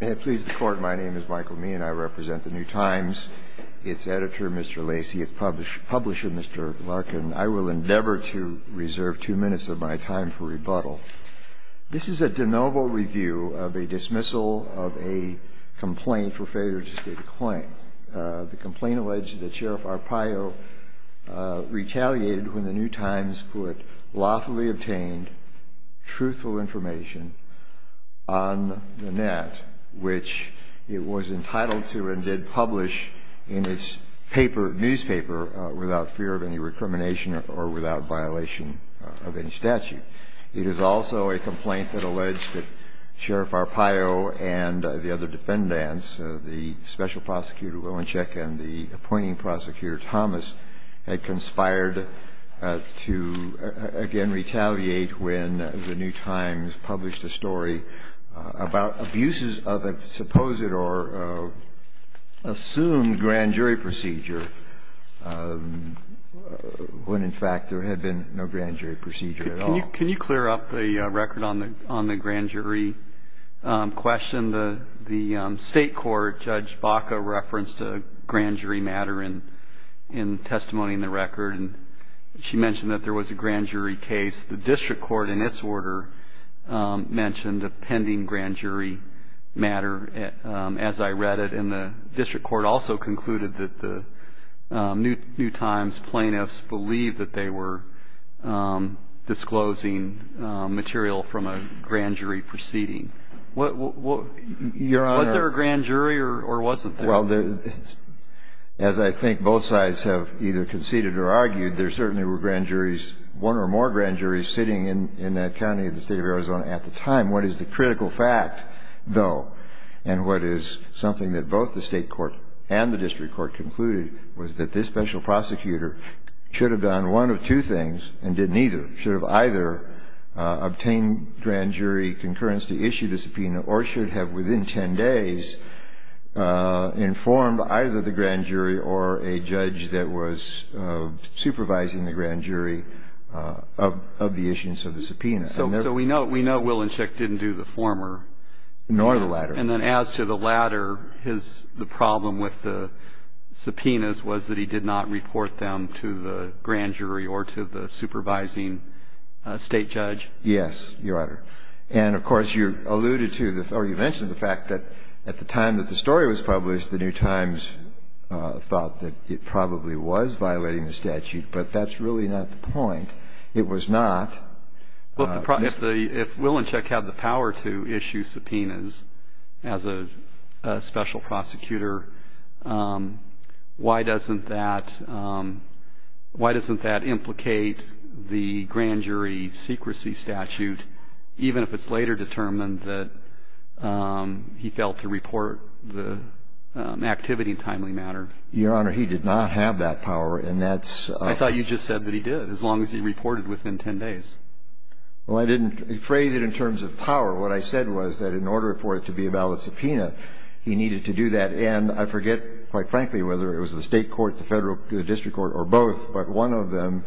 May it please the Court, my name is Michael Meehan. I represent the New Times, its editor Mr. Lacey, its publisher Mr. Larkin. I will endeavor to reserve two minutes of my time for rebuttal. This is a de novo review of a dismissal of a complaint for failure to state a claim. The complaint alleged that Sheriff Arpaio retaliated when the New Times put lawfully obtained, truthful information on the net which it was entitled to and did publish in its newspaper without fear of any recrimination or without violation of any statute. It is also a complaint that alleged that Sheriff Arpaio and the other defendants, the Special Prosecutor Wilenschek and the appointing prosecutor Thomas, had conspired to again retaliate when the New Times published a story about abuses of a supposed or assumed grand jury procedure when in fact there had been no grand jury procedure at all. Can you clear up the record on the grand jury question? The state court Judge Baca referenced a grand jury matter in testimony in the record and she mentioned that there was a grand jury case. The district court in its order mentioned a pending grand jury matter as I read it and the district court also concluded that the New Times plaintiffs believed that they were disclosing material from a grand jury proceeding. Was there a grand jury or wasn't there? Well, as I think both sides have either conceded or argued, there certainly were grand juries, one or more grand juries, sitting in that county of the state of Arizona at the time. What is the critical fact, though, and what is something that both the state court and the district court concluded was that this special prosecutor should have done one of two things and did neither. Should have either obtained grand jury concurrence to issue the subpoena or should have within ten days informed either the grand jury or a judge that was supervising the grand jury of the issuance of the subpoena. So we know Willinschek didn't do the former. Nor the latter. And then as to the latter, the problem with the subpoenas was that he did not report them to the grand jury or to the supervising state judge? Yes, Your Honor. And, of course, you alluded to or you mentioned the fact that at the time that the story was published, the New Times thought that it probably was violating the statute, but that's really not the point. It was not. If Willinschek had the power to issue subpoenas as a special prosecutor, why doesn't that implicate the grand jury secrecy statute, even if it's later determined that he failed to report the activity in timely matter? Your Honor, he did not have that power. I thought you just said that he did, as long as he reported within ten days. Well, I didn't phrase it in terms of power. What I said was that in order for it to be a valid subpoena, he needed to do that. And I forget, quite frankly, whether it was the state court, the federal district court, or both, but one of them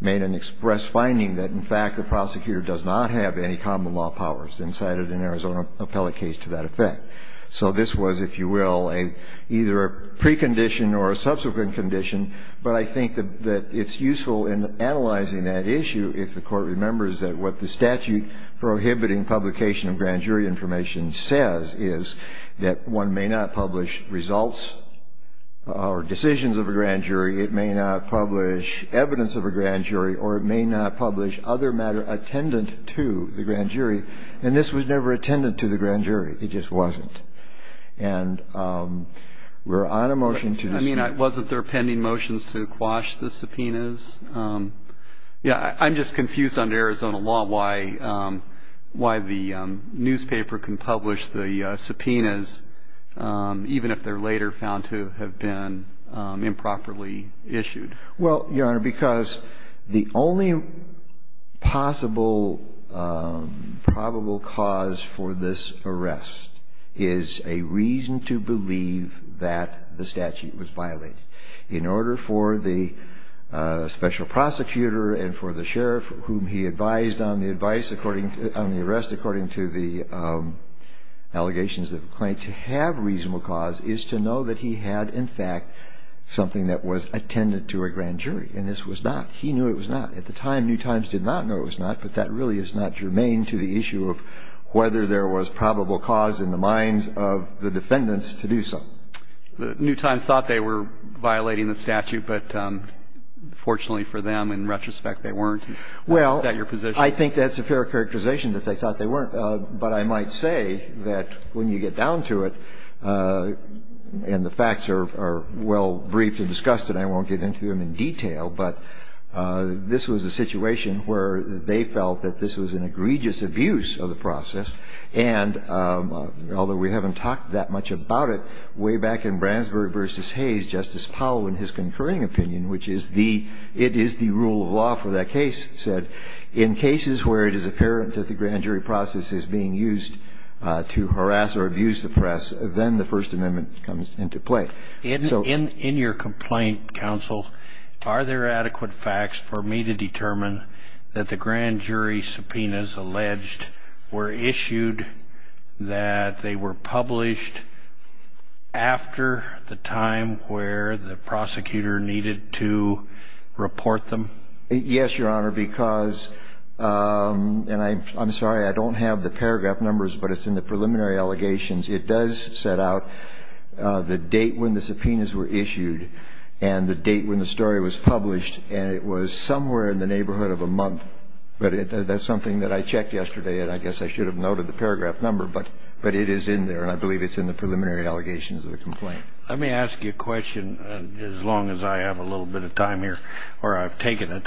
made an express finding that, in fact, the prosecutor does not have any common law powers incited in Arizona appellate case to that effect. So this was, if you will, either a precondition or a subsequent condition, but I think that it's useful in analyzing that issue if the court remembers that what the statute prohibiting publication of grand jury information says is that one may not publish results or decisions of a grand jury, it may not publish evidence of a grand jury, or it may not publish other matter attendant to the grand jury. And this was never attendant to the grand jury. And we're on a motion to dismiss. I mean, wasn't there pending motions to quash the subpoenas? Yeah. I'm just confused under Arizona law why the newspaper can publish the subpoenas, even if they're later found to have been improperly issued. Well, Your Honor, because the only possible probable cause for this arrest is a reason to believe that the statute was violated. In order for the special prosecutor and for the sheriff, whom he advised on the arrest according to the allegations of a claim to have reasonable cause, is to know that he had, in fact, something that was attendant to a grand jury. And this was not. He knew it was not. At the time, New Times did not know it was not, but that really is not germane to the issue of whether there was probable cause in the minds of the defendants to do so. New Times thought they were violating the statute, but fortunately for them, in retrospect, they weren't. Is that your position? Well, I think that's a fair characterization that they thought they weren't. But I might say that when you get down to it, and the facts are well briefed and discussed, and I won't get into them in detail, but this was a situation where they felt that this was an egregious abuse of the process. And although we haven't talked that much about it, way back in Bransburg v. Hayes, Justice Powell, in his concurring opinion, which is the rule of law for that case, said in cases where it is apparent that the grand jury process is being used to harass or abuse the press, then the First Amendment comes into play. In your complaint, counsel, are there adequate facts for me to determine that the grand jury subpoenas alleged were issued, that they were published after the time where the prosecutor needed to report them? Yes, Your Honor, because, and I'm sorry, I don't have the paragraph numbers, but it's in the preliminary allegations. It does set out the date when the subpoenas were issued and the date when the story was published, and it was somewhere in the neighborhood of a month. But that's something that I checked yesterday, and I guess I should have noted the paragraph number, but it is in there, and I believe it's in the preliminary allegations of the complaint. Let me ask you a question, as long as I have a little bit of time here, or I've taken it.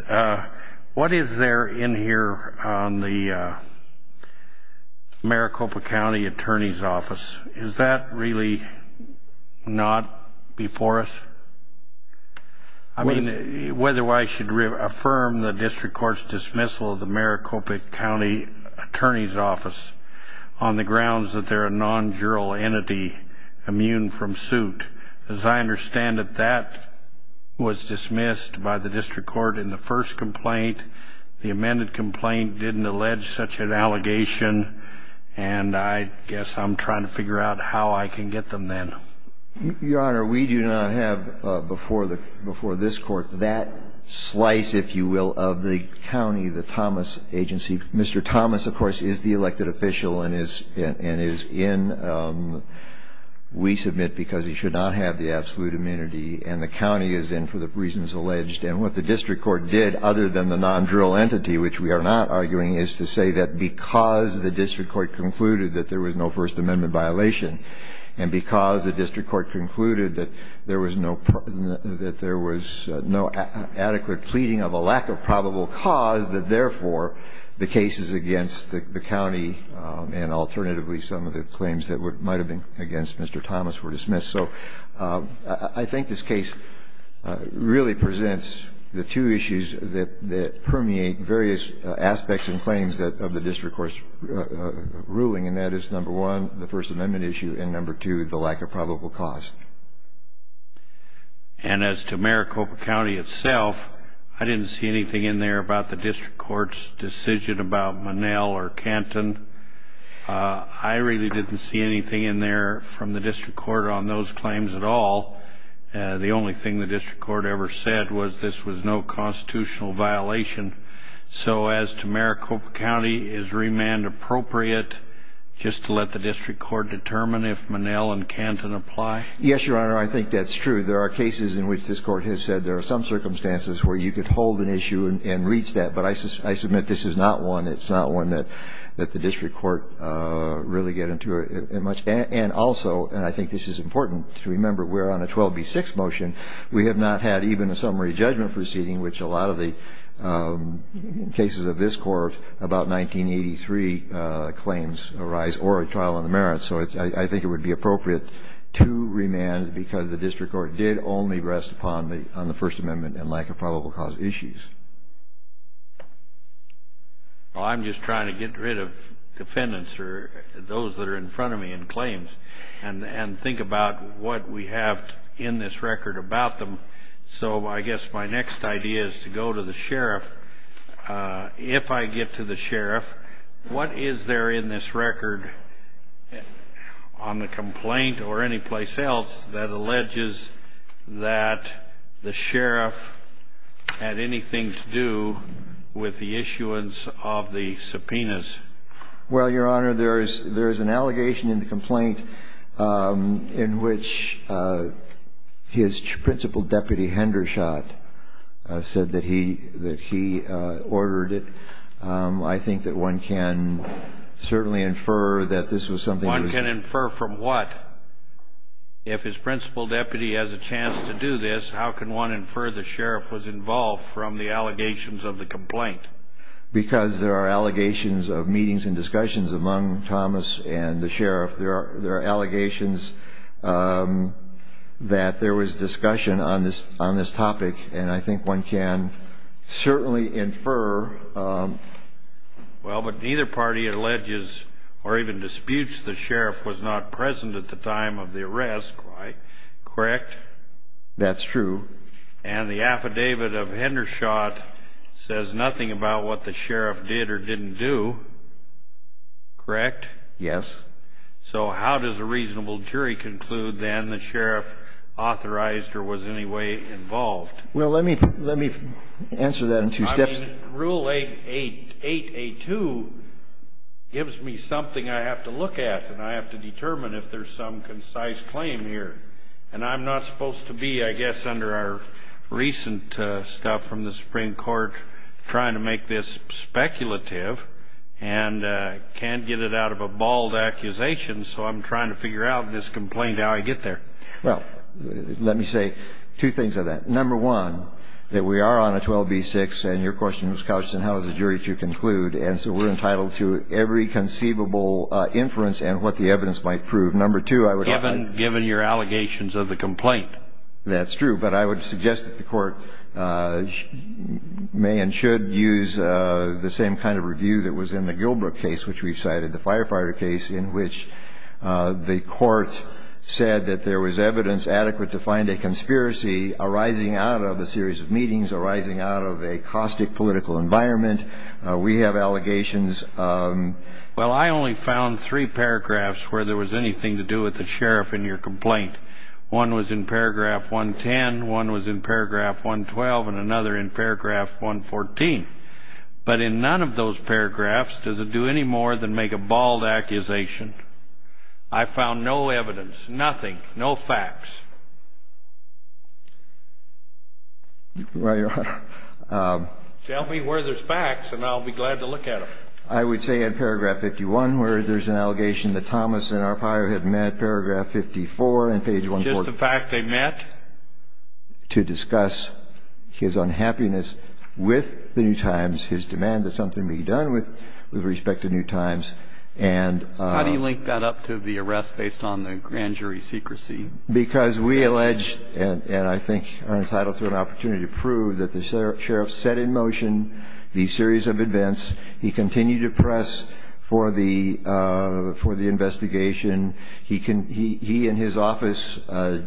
What is there in here on the Maricopa County Attorney's Office? Is that really not before us? I mean, whether I should affirm the district court's dismissal of the Maricopa County Attorney's Office on the grounds that they're a non-jural entity immune from suit. As I understand it, that was dismissed by the district court in the first complaint. The amended complaint didn't allege such an allegation, and I guess I'm trying to figure out how I can get them then. Your Honor, we do not have before this Court that slice, if you will, of the county, the Thomas agency. Mr. Thomas, of course, is the elected official and is in. We submit because he should not have the absolute amenity, and the county is in for the reasons alleged. And what the district court did, other than the non-jural entity, which we are not arguing, is to say that because the district court concluded that there was no First Amendment violation, and because the district court concluded that there was no adequate pleading of a lack of probable cause, that therefore the cases against the county and alternatively some of the claims that might have been against Mr. Thomas were dismissed. So I think this case really presents the two issues that permeate various aspects and claims of the district court's ruling, and that is, number one, the First Amendment issue, and number two, the lack of probable cause. And as to Maricopa County itself, I didn't see anything in there about the district court's decision about Monell or Canton. I really didn't see anything in there from the district court on those claims at all. The only thing the district court ever said was this was no constitutional violation. So as to Maricopa County, is remand appropriate just to let the district court determine if Monell and Canton apply? Yes, Your Honor, I think that's true. There are cases in which this Court has said there are some circumstances where you could hold an issue and reach that, but I submit this is not one that the district court really get into much. And also, and I think this is important to remember, we're on a 12b-6 motion. We have not had even a summary judgment proceeding, which a lot of the cases of this Court about 1983 claims arise, or a trial on the merits. So I think it would be appropriate to remand because the district court did only rest upon the First Amendment and lack of probable cause issues. Well, I'm just trying to get rid of defendants or those that are in front of me in claims and think about what we have in this record about them. So I guess my next idea is to go to the sheriff. If I get to the sheriff, what is there in this record on the complaint or anyplace else that alleges that the sheriff had anything to do with the issuance of the subpoenas? Well, Your Honor, there is an allegation in the complaint in which his principal deputy, Hendershot, said that he ordered it. I think that one can certainly infer that this was something that was... One can infer from what? If his principal deputy has a chance to do this, how can one infer the sheriff was involved from the allegations of the complaint? Because there are allegations of meetings and discussions among Thomas and the sheriff. There are allegations that there was discussion on this topic, and I think one can certainly infer... Well, but neither party alleges or even disputes the sheriff was not present at the time of the arrest, right? Correct? That's true. And the affidavit of Hendershot says nothing about what the sheriff did or didn't do, correct? Yes. So how does a reasonable jury conclude then the sheriff authorized or was in any way involved? Well, let me answer that in two steps. Rule 8A2 gives me something I have to look at, and I have to determine if there's some concise claim here. And I'm not supposed to be, I guess, under our recent stuff from the Supreme Court trying to make this speculative and can't get it out of a bald accusation, so I'm trying to figure out this complaint, how I get there. Well, let me say two things on that. Number one, that we are on a 12B6, and your question was, Couch, and how is a jury to conclude? And so we're entitled to every conceivable inference and what the evidence might prove. Given your allegations of the complaint. That's true. But I would suggest that the court may and should use the same kind of review that was in the Gilbrook case, which we cited, the firefighter case, in which the court said that there was evidence adequate to find a conspiracy arising out of a series of meetings, arising out of a caustic political environment. We have allegations. Well, I only found three paragraphs where there was anything to do with the sheriff in your complaint. One was in paragraph 110, one was in paragraph 112, and another in paragraph 114. But in none of those paragraphs does it do any more than make a bald accusation. I found no evidence, nothing, no facts. Well, Your Honor. Tell me where there's facts, and I'll be glad to look at them. I would say in paragraph 51, where there's an allegation that Thomas and Arpaio had met, paragraph 54 on page 140. Just the fact they met? To discuss his unhappiness with the New Times, his demand that something be done with respect to New Times. How do you link that up to the arrest based on the grand jury secrecy? Because we allege, and I think are entitled to an opportunity to prove, that the sheriff set in motion the series of events. He continued to press for the investigation. He and his office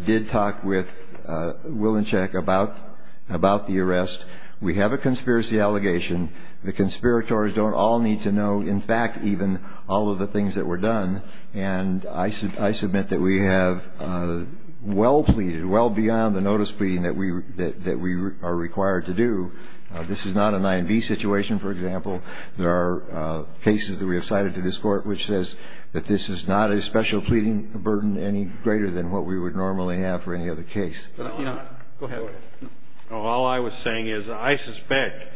did talk with Wilenshek about the arrest. We have a conspiracy allegation. The conspirators don't all need to know, in fact, even all of the things that were done. And I submit that we have well pleaded, well beyond the notice pleading that we are required to do. This is not a 9B situation, for example. There are cases that we have cited to this Court which says that this is not a special pleading burden any greater than what we would normally have for any other case. Go ahead. All I was saying is I suspect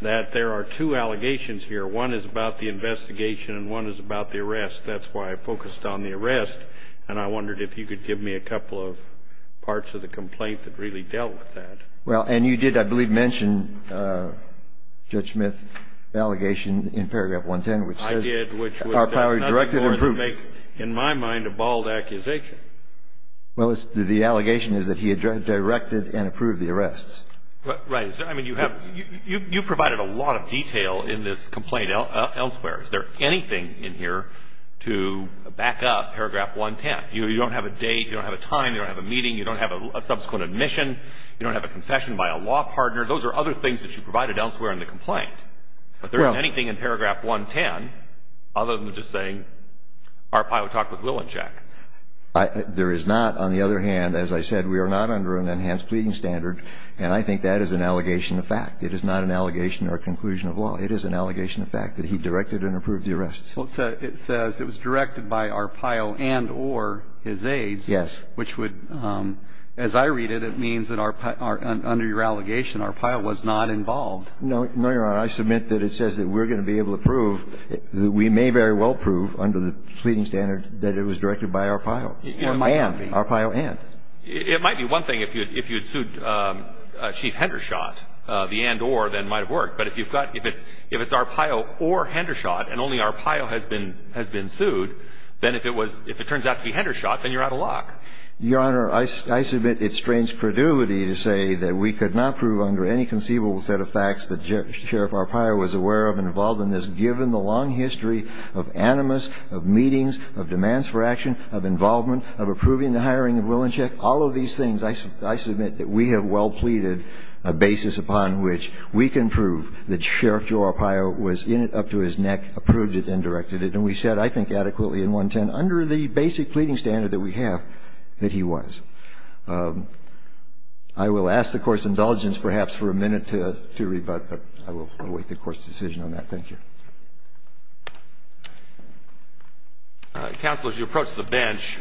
that there are two allegations here. One is about the investigation, and one is about the arrest. That's why I focused on the arrest, and I wondered if you could give me a couple of parts of the complaint that really dealt with that. Well, and you did, I believe, mention Judge Smith's allegation in paragraph 110, which says our power to direct and approve. I did, which does nothing more than make, in my mind, a bald accusation. Well, the allegation is that he had directed and approved the arrests. Right. I mean, you provided a lot of detail in this complaint elsewhere. Is there anything in here to back up paragraph 110? You don't have a date. You don't have a time. You don't have a meeting. You don't have a subsequent admission. You don't have a confession by a law partner. Those are other things that you provided elsewhere in the complaint. But there isn't anything in paragraph 110 other than just saying our pilot talked with Willinshack. There is not. On the other hand, as I said, we are not under an enhanced pleading standard, and I think that is an allegation of fact. It is not an allegation or a conclusion of law. It is an allegation of fact that he directed and approved the arrests. Well, it says it was directed by Arpaio and or his aides. Yes. Which would, as I read it, it means that under your allegation, Arpaio was not involved. No, Your Honor. I submit that it says that we're going to be able to prove that we may very well prove under the pleading standard that it was directed by Arpaio. Or may not be. Arpaio and. It might be one thing if you had sued Chief Hendershot, the and or, that might have worked. But if you've got, if it's Arpaio or Hendershot and only Arpaio has been sued, then if it was, if it turns out to be Hendershot, then you're out of luck. Your Honor, I submit it strains credulity to say that we could not prove under any conceivable set of facts that Sheriff Arpaio was aware of and involved in this, given the long history of animus, of meetings, of demands for action, of involvement, of approving the hiring of Willinshack. All of these things, I submit that we have well pleaded a basis upon which we can prove that Sheriff Joe Arpaio was in it up to his neck, approved it, and directed it. And we said, I think, adequately in 110, under the basic pleading standard that we have, that he was. I will ask the Court's indulgence perhaps for a minute to rebut, but I will await the Court's decision on that. Thank you. Counsel, as you approach the bench,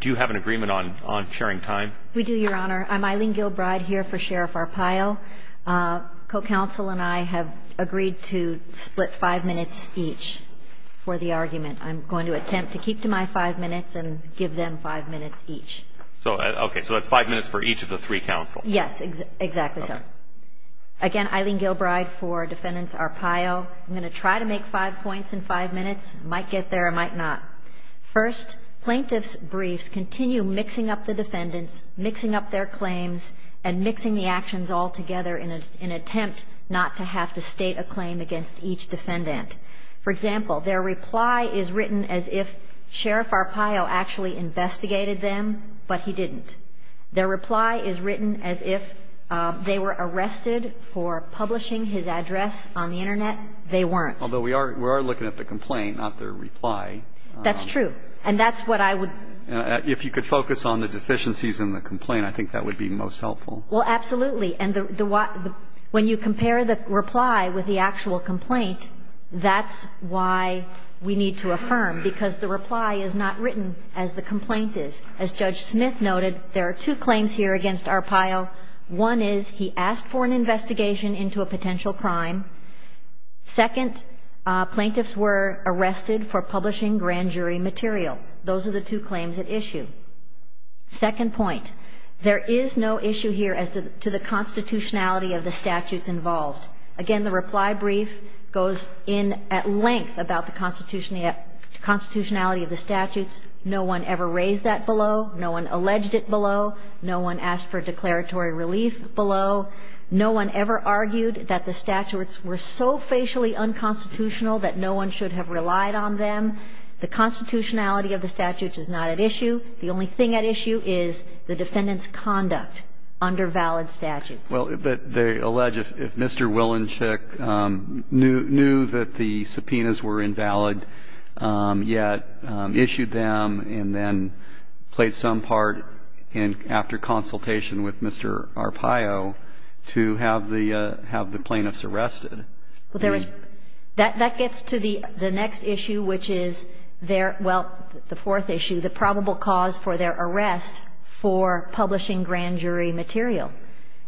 do you have an agreement on sharing time? We do, Your Honor. I'm Eileen Gilbride here for Sheriff Arpaio. Co-counsel and I have agreed to split five minutes each for the argument. I'm going to attempt to keep to my five minutes and give them five minutes each. Okay, so that's five minutes for each of the three counsels. Yes, exactly so. Again, Eileen Gilbride for Defendant Arpaio. I'm going to try to make five points in five minutes. I might get there, I might not. First, plaintiff's briefs continue mixing up the defendants, mixing up their claims, and mixing the actions all together in an attempt not to have to state a claim against each defendant. For example, their reply is written as if Sheriff Arpaio actually investigated them, but he didn't. Their reply is written as if they were arrested for publishing his address on the Internet. They weren't. Although we are looking at the complaint, not their reply. That's true, and that's what I would. If you could focus on the deficiencies in the complaint, I think that would be most helpful. Well, absolutely. And when you compare the reply with the actual complaint, that's why we need to affirm, because the reply is not written as the complaint is. As Judge Smith noted, there are two claims here against Arpaio. One is he asked for an investigation into a potential crime. Second, plaintiffs were arrested for publishing grand jury material. Those are the two claims at issue. Second point, there is no issue here as to the constitutionality of the statutes involved. Again, the reply brief goes in at length about the constitutionality of the statutes. No one ever raised that below. No one alleged it below. No one asked for declaratory relief below. No one ever argued that the statutes were so facially unconstitutional that no one should have relied on them. The constitutionality of the statutes is not at issue. The only thing at issue is the defendant's conduct under valid statutes. Well, but they allege if Mr. Willenschick knew that the subpoenas were invalid yet issued them and then played some part after consultation with Mr. Arpaio to have the plaintiffs arrested. That gets to the next issue, which is their, well, the fourth issue, the probable cause for their arrest for publishing grand jury material.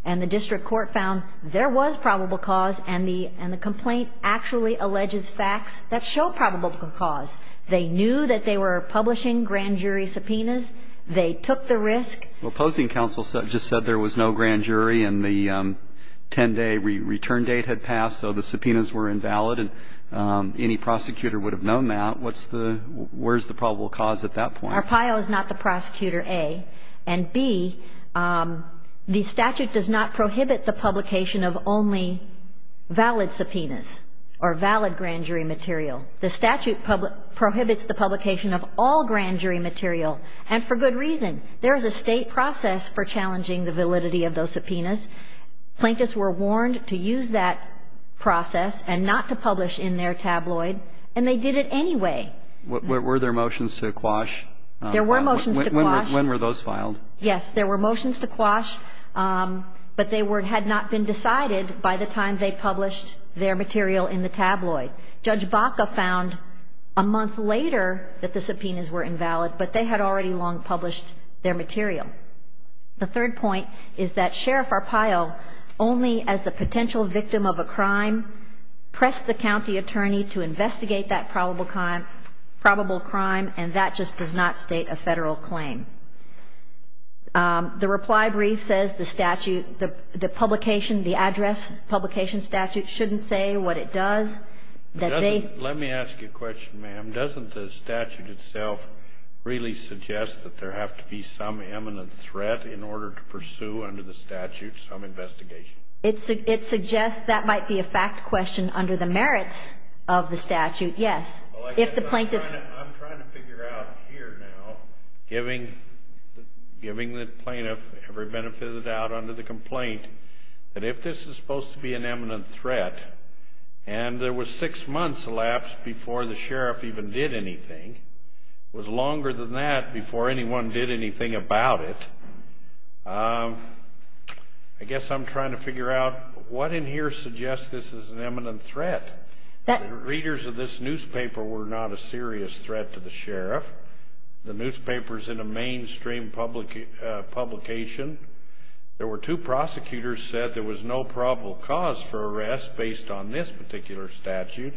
And the district court found there was probable cause, and the complaint actually alleges facts that show probable cause. They knew that they were publishing grand jury subpoenas. They took the risk. Well, opposing counsel just said there was no grand jury and the 10-day return date had passed, so the subpoenas were invalid, and any prosecutor would have known that. What's the, where's the probable cause at that point? Arpaio is not the prosecutor, A. And B, the statute does not prohibit the publication of only valid subpoenas or valid grand jury material. The statute prohibits the publication of all grand jury material, and for good reason. There is a State process for challenging the validity of those subpoenas. Plaintiffs were warned to use that process and not to publish in their tabloid, and they did it anyway. Were there motions to quash? There were motions to quash. When were those filed? Yes. There were motions to quash, but they had not been decided by the time they published their material in the tabloid. Judge Baca found a month later that the subpoenas were invalid, but they had already long published their material. The third point is that Sheriff Arpaio, only as the potential victim of a crime, pressed the county attorney to investigate that probable crime, and that just does not state a Federal claim. The reply brief says the statute, the publication, the address, publication statute, shouldn't say what it does. Let me ask you a question, ma'am. Doesn't the statute itself really suggest that there have to be some imminent threat in order to pursue under the statute some investigation? It suggests that might be a fact question under the merits of the statute, yes. I'm trying to figure out here now, giving the plaintiff every benefit of the doubt under the complaint, that if this is supposed to be an imminent threat, and there was six months elapsed before the sheriff even did anything, it was longer than that before anyone did anything about it, I guess I'm trying to figure out what in here suggests this is an imminent threat. The readers of this newspaper were not a serious threat to the sheriff. The newspaper is in a mainstream publication. There were two prosecutors said there was no probable cause for arrest based on this particular statute.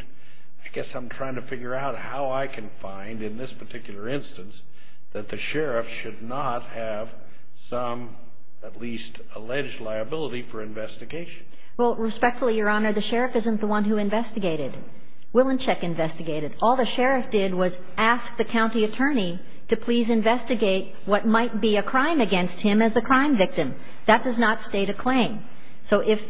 I guess I'm trying to figure out how I can find in this particular instance that the sheriff should not have some at least alleged liability for investigation. Well, respectfully, Your Honor, the sheriff isn't the one who investigated. Willinchick investigated. All the sheriff did was ask the county attorney to please investigate what might be a crime against him as the crime victim. That does not state a claim. So if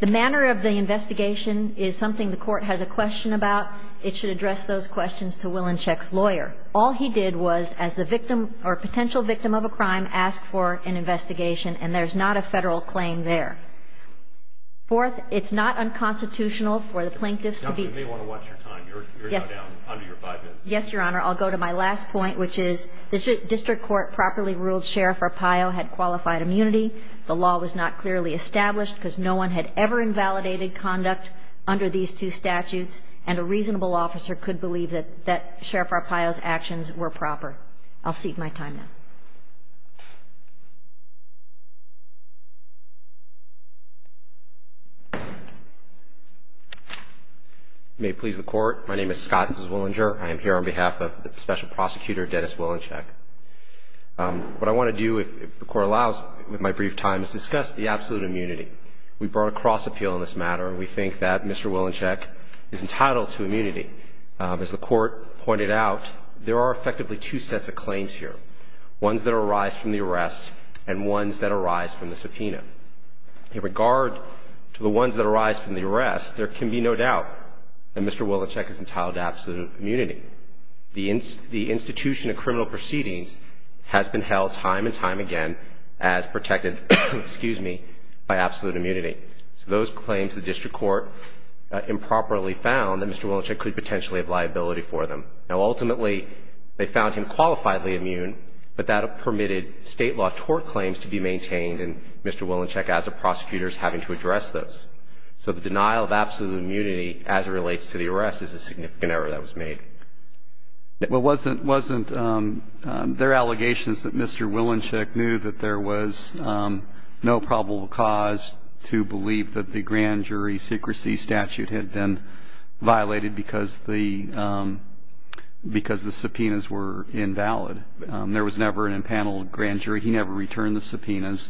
the manner of the investigation is something the Court has a question about, it should address those questions to Willinchick's lawyer. All he did was, as the victim or potential victim of a crime, ask for an investigation, and there's not a Federal claim there. Fourth, it's not unconstitutional for the plaintiffs to be... You may want to watch your time. You're now down under your five minutes. Yes, Your Honor. I'll go to my last point, which is the district court properly ruled Sheriff Arpaio had qualified immunity. The law was not clearly established because no one had ever invalidated conduct under these two statutes, and a reasonable officer could believe that Sheriff Arpaio's actions were proper. I'll cede my time now. May it please the Court. My name is Scott Zwillinger. I am here on behalf of Special Prosecutor Dennis Willinchick. What I want to do, if the Court allows, with my brief time, is discuss the absolute immunity. We brought a cross appeal in this matter, and we think that Mr. Willinchick is entitled to immunity. As the Court pointed out, there are effectively two sets of claims here, ones that arise from the arrest and ones that arise from the subpoena. In regard to the ones that arise from the arrest, there can be no doubt that Mr. Willinchick is entitled to absolute immunity. The institution of criminal proceedings has been held time and time again as protected by absolute immunity. So those claims, the district court improperly found that Mr. Willinchick could potentially have liability for them. Now, ultimately, they found him qualifiably immune, but that permitted state law tort claims to be maintained, and Mr. Willinchick, as a prosecutor, is having to address those. So the denial of absolute immunity, as it relates to the arrest, is a significant error that was made. Well, wasn't there allegations that Mr. Willinchick knew that there was no probable cause to believe that the grand jury secrecy statute had been violated because the subpoenas were invalid? There was never an impaneled grand jury. He never returned the subpoenas.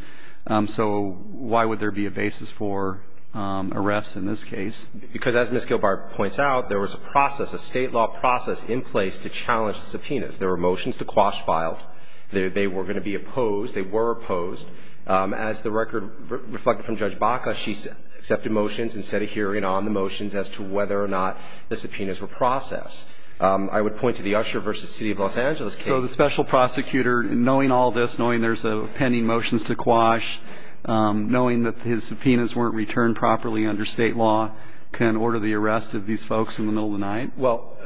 So why would there be a basis for arrest in this case? Because, as Ms. Gilbert points out, there was a process, a state law process, in place to challenge the subpoenas. There were motions to quash files. They were going to be opposed. They were opposed. As the record reflected from Judge Baca, she accepted motions and set a hearing on the motions as to whether or not the subpoenas were processed. I would point to the Usher v. City of Los Angeles case. So the special prosecutor, knowing all this, knowing there's pending motions to quash, knowing that his subpoenas weren't returned properly under state law, can order the arrest of these folks in the middle of the night? Well,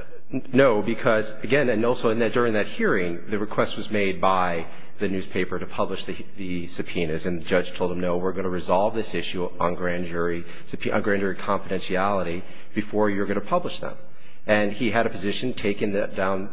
no, because, again, and also during that hearing, the request was made by the newspaper to publish the subpoenas. And the judge told him, no, we're going to resolve this issue on grand jury confidentiality before you're going to publish them. And he had a position taken down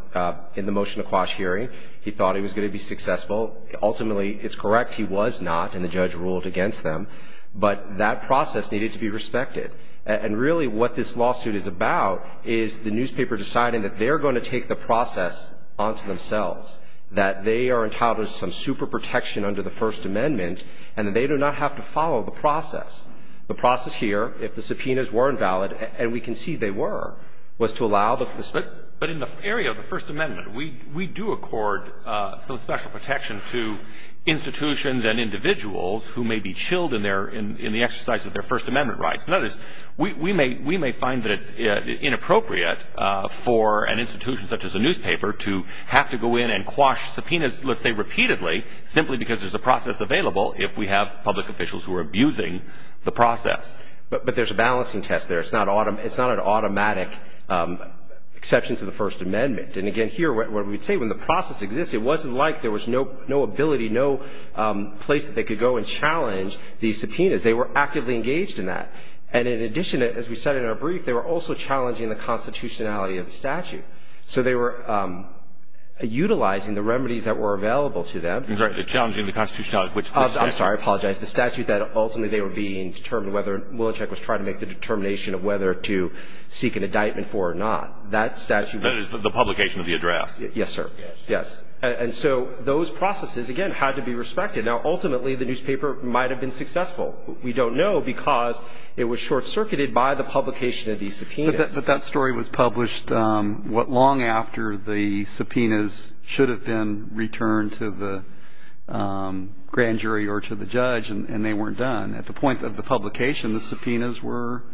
in the motion to quash hearing. He thought he was going to be successful. Ultimately, it's correct. He was not, and the judge ruled against them. But that process needed to be respected. And really what this lawsuit is about is the newspaper deciding that they're going to take the process onto themselves, that they are entitled to some super protection under the First Amendment, and that they do not have to follow the process. The process here, if the subpoenas were invalid, and we can see they were, was to allow the – But in the area of the First Amendment, we do accord some special protection to institutions and individuals who may be chilled in their – in the exercise of their First Amendment rights. In other words, we may find that it's inappropriate for an institution such as a newspaper to have to go in and quash subpoenas, let's say repeatedly, simply because there's a process available if we have public officials who are abusing the process. But there's a balancing test there. It's not an automatic exception to the First Amendment. And again, here, what we would say, when the process exists, it wasn't like there was no ability, no place that they could go and challenge these subpoenas. They were actively engaged in that. And in addition, as we said in our brief, they were also challenging the constitutionality of the statute. So they were utilizing the remedies that were available to them. Challenging the constitutionality, which the statute – I'm sorry, I apologize. The statute that ultimately they were being determined whether – Milosevic was trying to make the determination of whether to seek an indictment for or not. That statute – That is the publication of the address. Yes, sir. Yes. And so those processes, again, had to be respected. Now, ultimately, the newspaper might have been successful. We don't know because it was short-circuited by the publication of these subpoenas. But that story was published long after the subpoenas should have been returned to the grand jury or to the judge, and they weren't done. At the point of the publication, the subpoenas were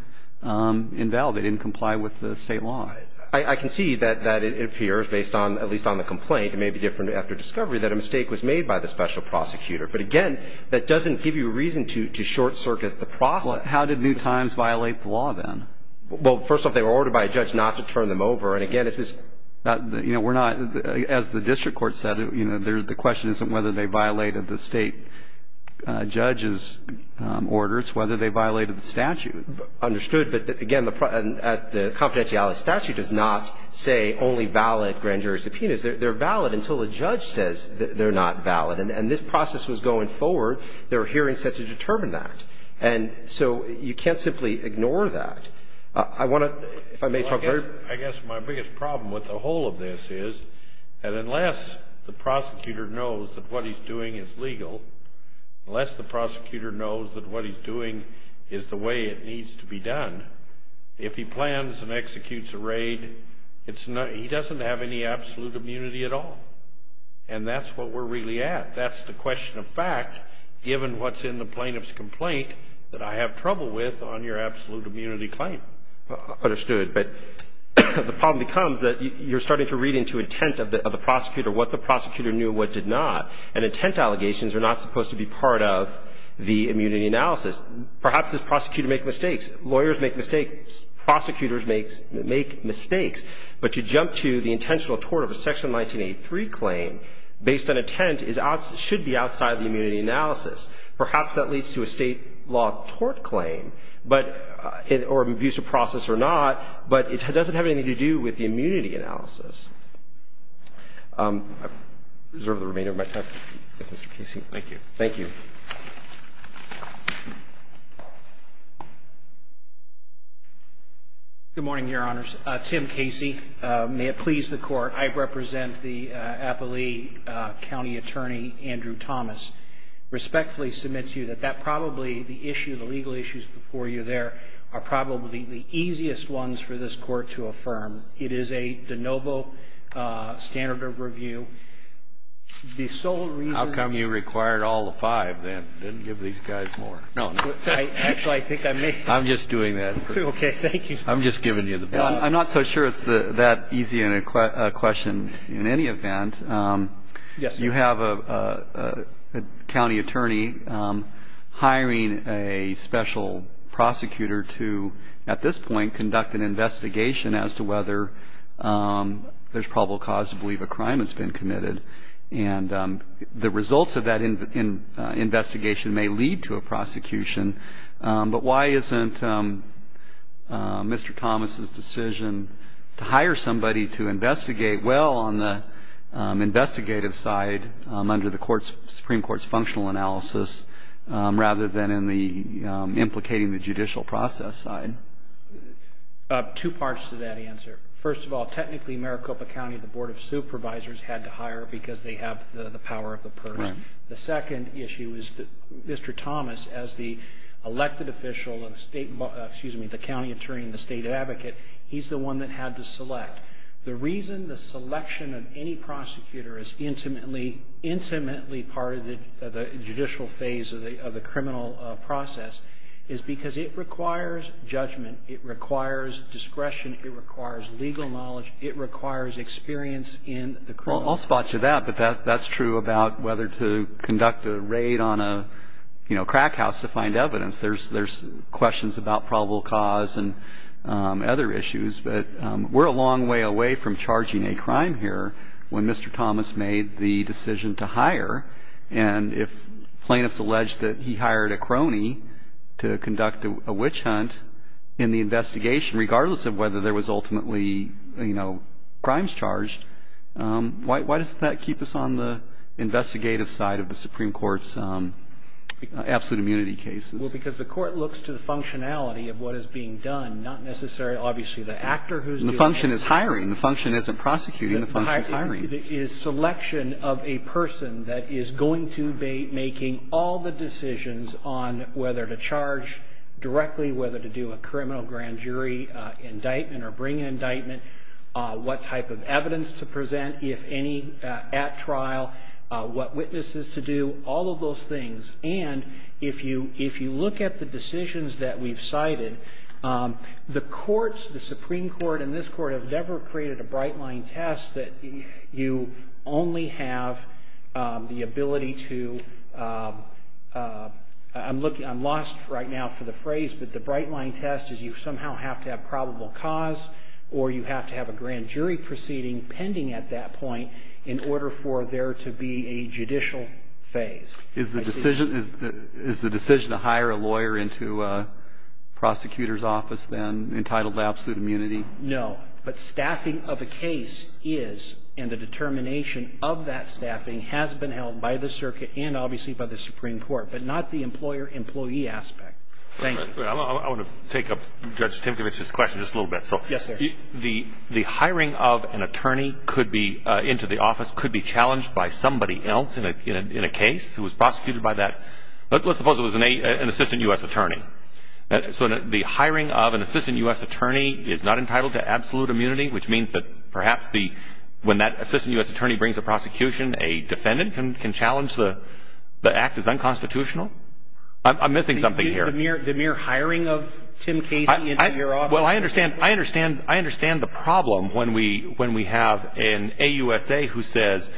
invalid. They didn't comply with the state law. I can see that it appears, based on – at least on the complaint, it may be different after discovery, that a mistake was made by the special prosecutor. But again, that doesn't give you a reason to short-circuit the process. How did New Times violate the law then? Well, first off, they were ordered by a judge not to turn them over. And again, it's this – You know, we're not – as the district court said, you know, the question isn't whether they violated the state judge's orders, whether they violated the statute. Understood. But, again, as the confidentiality statute does not say only valid grand jury subpoenas. They're valid until the judge says they're not valid. And this process was going forward. There were hearings set to determine that. And so you can't simply ignore that. I want to – if I may talk very – I guess my biggest problem with the whole of this is that unless the prosecutor knows that what he's doing is legal, unless the prosecutor knows that what he's doing is the way it needs to be done, if he plans and executes a raid, it's not – he doesn't have any absolute immunity at all. And that's what we're really at. That's the question of fact given what's in the plaintiff's complaint that I have trouble with on your absolute immunity claim. Understood. But the problem becomes that you're starting to read into intent of the prosecutor what the prosecutor knew and what did not. And intent allegations are not supposed to be part of the immunity analysis. Perhaps this prosecutor makes mistakes. Lawyers make mistakes. Prosecutors make mistakes. But to jump to the intentional tort of a Section 1983 claim based on intent is – should be outside the immunity analysis. Perhaps that leads to a State law tort claim, but – or an abusive process or not. But it doesn't have anything to do with the immunity analysis. I reserve the remainder of my time. Thank you, Mr. Casey. Thank you. Good morning, Your Honors. Tim Casey. May it please the Court. I represent the Appalee County Attorney, Andrew Thomas. Respectfully submit to you that that probably the issue, the legal issues before you there, are probably the easiest ones for this Court to affirm. It is a de novo standard of review. The sole reason – How come you required all the five? No. Actually, I think I may. I'm just doing that. Okay. Thank you. I'm just giving you the ball. I'm not so sure it's that easy a question in any event. Yes, sir. You have a county attorney hiring a special prosecutor to, at this point, conduct an investigation as to whether there's probable cause to believe a crime has been committed. The results of that investigation may lead to a prosecution, but why isn't Mr. Thomas' decision to hire somebody to investigate well on the investigative side under the Supreme Court's functional analysis rather than implicating the judicial process side? Two parts to that answer. First of all, technically, Maricopa County, the Board of Supervisors, had to hire because they have the power of the person. The second issue is that Mr. Thomas, as the elected official, the county attorney and the state advocate, he's the one that had to select. The reason the selection of any prosecutor is intimately part of the judicial phase of the criminal process is because it requires judgment, it requires discretion, it requires legal knowledge, it requires experience in the criminal process. Well, I'll spot you that, but that's true about whether to conduct a raid on a, you know, crack house to find evidence. There's questions about probable cause and other issues, but we're a long way away from charging a crime here when Mr. Thomas made the decision to hire. And if plaintiffs allege that he hired a crony to conduct a witch hunt in the investigation, regardless of whether there was ultimately, you know, crimes charged, why doesn't that keep us on the investigative side of the Supreme Court's absolute immunity cases? Well, because the court looks to the functionality of what is being done, not necessarily, obviously, the actor who's doing it. And the function is hiring. The function isn't prosecuting. The function is hiring. The function is selection of a person that is going to be making all the decisions on whether to charge directly, whether to do a criminal grand jury indictment or bring an indictment, what type of evidence to present, if any, at trial, what witnesses to do, all of those things. And if you look at the decisions that we've cited, the courts, the Supreme Court and this court have never created a bright-line test that you only have the ability to, I'm looking, I'm lost right now for the phrase, but the bright-line test is you somehow have to have probable cause or you have to have a grand jury proceeding pending at that point in order for there to be a judicial phase. Is the decision to hire a lawyer into a prosecutor's office then entitled to absolute immunity? No. But staffing of a case is, and the determination of that staffing has been held by the circuit and obviously by the Supreme Court, but not the employer-employee aspect. Thank you. I want to take up Judge Timkovich's question just a little bit. Yes, sir. The hiring of an attorney into the office could be challenged by somebody else in a case who was prosecuted by that. Let's suppose it was an assistant U.S. attorney. So the hiring of an assistant U.S. attorney is not entitled to absolute immunity, which means that perhaps when that assistant U.S. attorney brings a prosecution, a defendant can challenge the act as unconstitutional? I'm missing something here. The mere hiring of Tim Casey into your office. Well, I understand the problem when we have an AUSA who says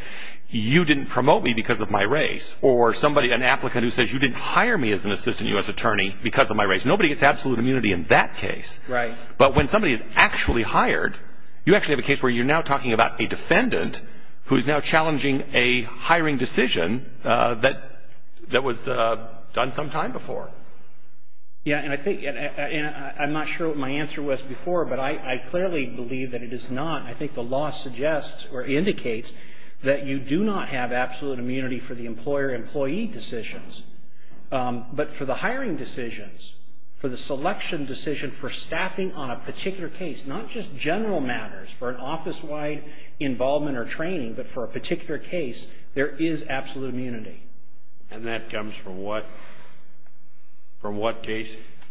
you didn't promote me because of my race or somebody, an applicant who says you didn't hire me as an assistant U.S. attorney because of my race. Nobody gets absolute immunity in that case. Right. But when somebody is actually hired, you actually have a case where you're now talking about a defendant who is now challenging a hiring decision that was done some time before. Yeah, and I think, and I'm not sure what my answer was before, but I clearly believe that it is not. I think the law suggests or indicates that you do not have absolute immunity for the employer-employee decisions. But for the hiring decisions, for the selection decision, for staffing on a particular case, not just general matters for an office-wide involvement or training, but for a particular case, there is absolute immunity. And that comes from what? From what case?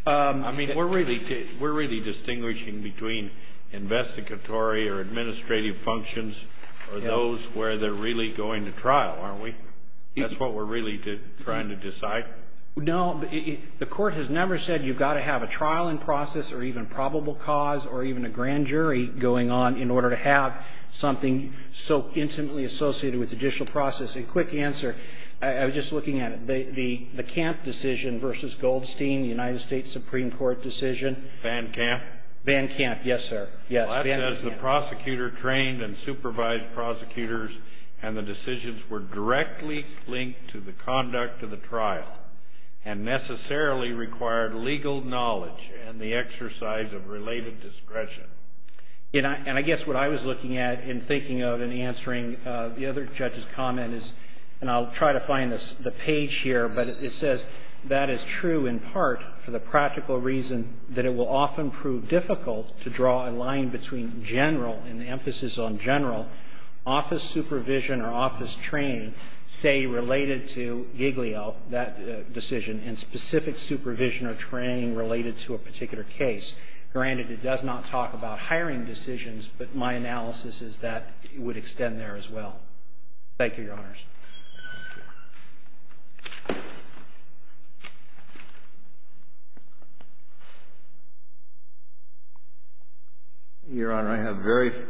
I mean, we're really distinguishing between investigatory or administrative functions or those where they're really going to trial, aren't we? That's what we're really trying to decide? No. The court has never said you've got to have a trial in process or even probable cause or even a grand jury going on in order to have something so intimately associated with judicial process. A quick answer. I was just looking at it. The Camp decision versus Goldstein, the United States Supreme Court decision. Van Camp? Van Camp, yes, sir. Yes, Van Camp. Well, that says the prosecutor trained and supervised prosecutors and the decisions were directly linked to the conduct of the trial and necessarily required legal knowledge and the exercise of related discretion. And I guess what I was looking at and thinking of and answering the other judge's comment is and I'll try to find the page here, but it says, that is true in part for the practical reason that it will often prove difficult to draw a line between general and the emphasis on general office supervision or office training, say, related to Giglio, that decision, and specific supervision or training related to a particular case. Granted, it does not talk about hiring decisions, but my analysis is that it would extend there as well. Thank you, Your Honors. Thank you. Your Honor, I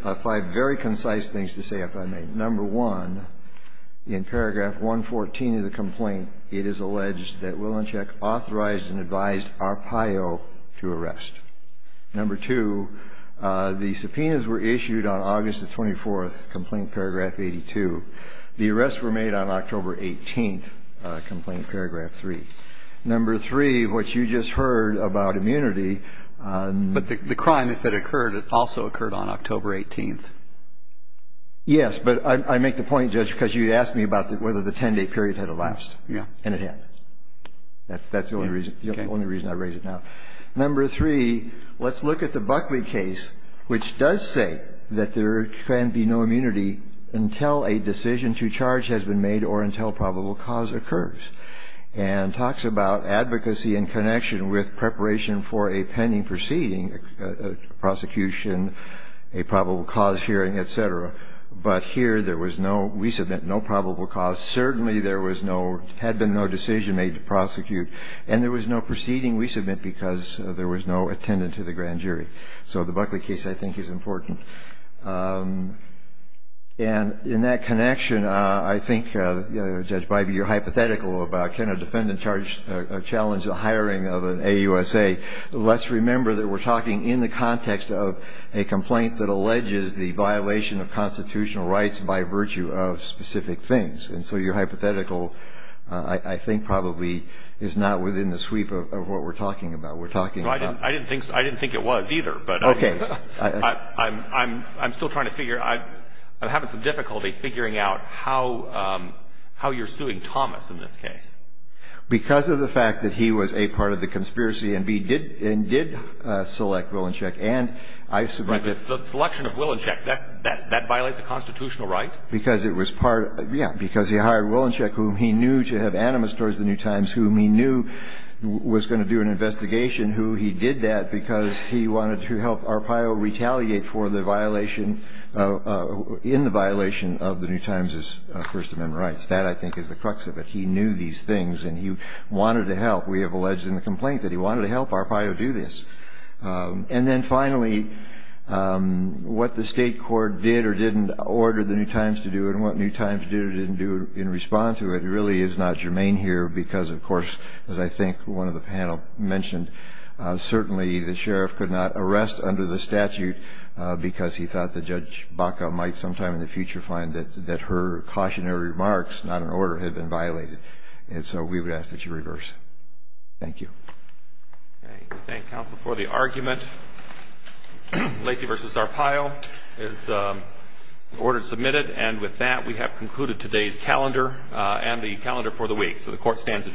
have five very concise things to say if I may. Number one, in paragraph 114 of the complaint, it is alleged that Willinchick authorized and advised Arpaio to arrest. Number two, the subpoenas were issued on August the 24th, complaint paragraph 82. The arrests were made on October 18th, complaint paragraph 3. Number three, what you just heard about immunity. But the crime, if it occurred, it also occurred on October 18th. Yes, but I make the point, Judge, because you asked me about whether the 10-day period had elapsed. Yes. And it had. That's the only reason I raise it now. Number three, let's look at the Buckley case, which does say that there can be no immunity until a decision to charge has been made or until probable cause occurs, and talks about advocacy in connection with preparation for a pending proceeding, prosecution, a probable cause hearing, et cetera. But here there was no, we submit no probable cause. Certainly there was no, had been no decision made to prosecute. And there was no proceeding, we submit, because there was no attendant to the grand jury. So the Buckley case, I think, is important. And in that connection, I think, Judge Bybee, you're hypothetical about, can a defendant challenge the hiring of an AUSA? Let's remember that we're talking in the context of a complaint that alleges the violation of constitutional rights by virtue of specific things. And so you're hypothetical, I think, probably is not within the sweep of what we're talking about. We're talking about. I didn't think it was either. Okay. But I'm still trying to figure, I'm having some difficulty figuring out how you're suing Thomas in this case. Because of the fact that he was, A, part of the conspiracy, and B, did select Willinsheck. And I submit that. The selection of Willinsheck, that violates a constitutional right? Because it was part, yeah, because he hired Willinsheck, whom he knew to have animus towards the New Times, whom he knew was going to do an investigation, who he did that because he wanted to help Arpaio retaliate for the violation, in the violation of the New Times' First Amendment rights. That, I think, is the crux of it. He knew these things, and he wanted to help. We have alleged in the complaint that he wanted to help Arpaio do this. And then, finally, what the state court did or didn't order the New Times to do, and what New Times did or didn't do in response to it, really is not germane here. Because, of course, as I think one of the panel mentioned, certainly the sheriff could not arrest under the statute, because he thought that Judge Baca might sometime in the future find that her cautionary remarks, not an order, had been violated. And so we would ask that you reverse. Thank you. Thank you, counsel, for the argument. Lacey v. Arpaio is ordered submitted. And with that, we have concluded today's calendar and the calendar for the week. So the court stands adjourned.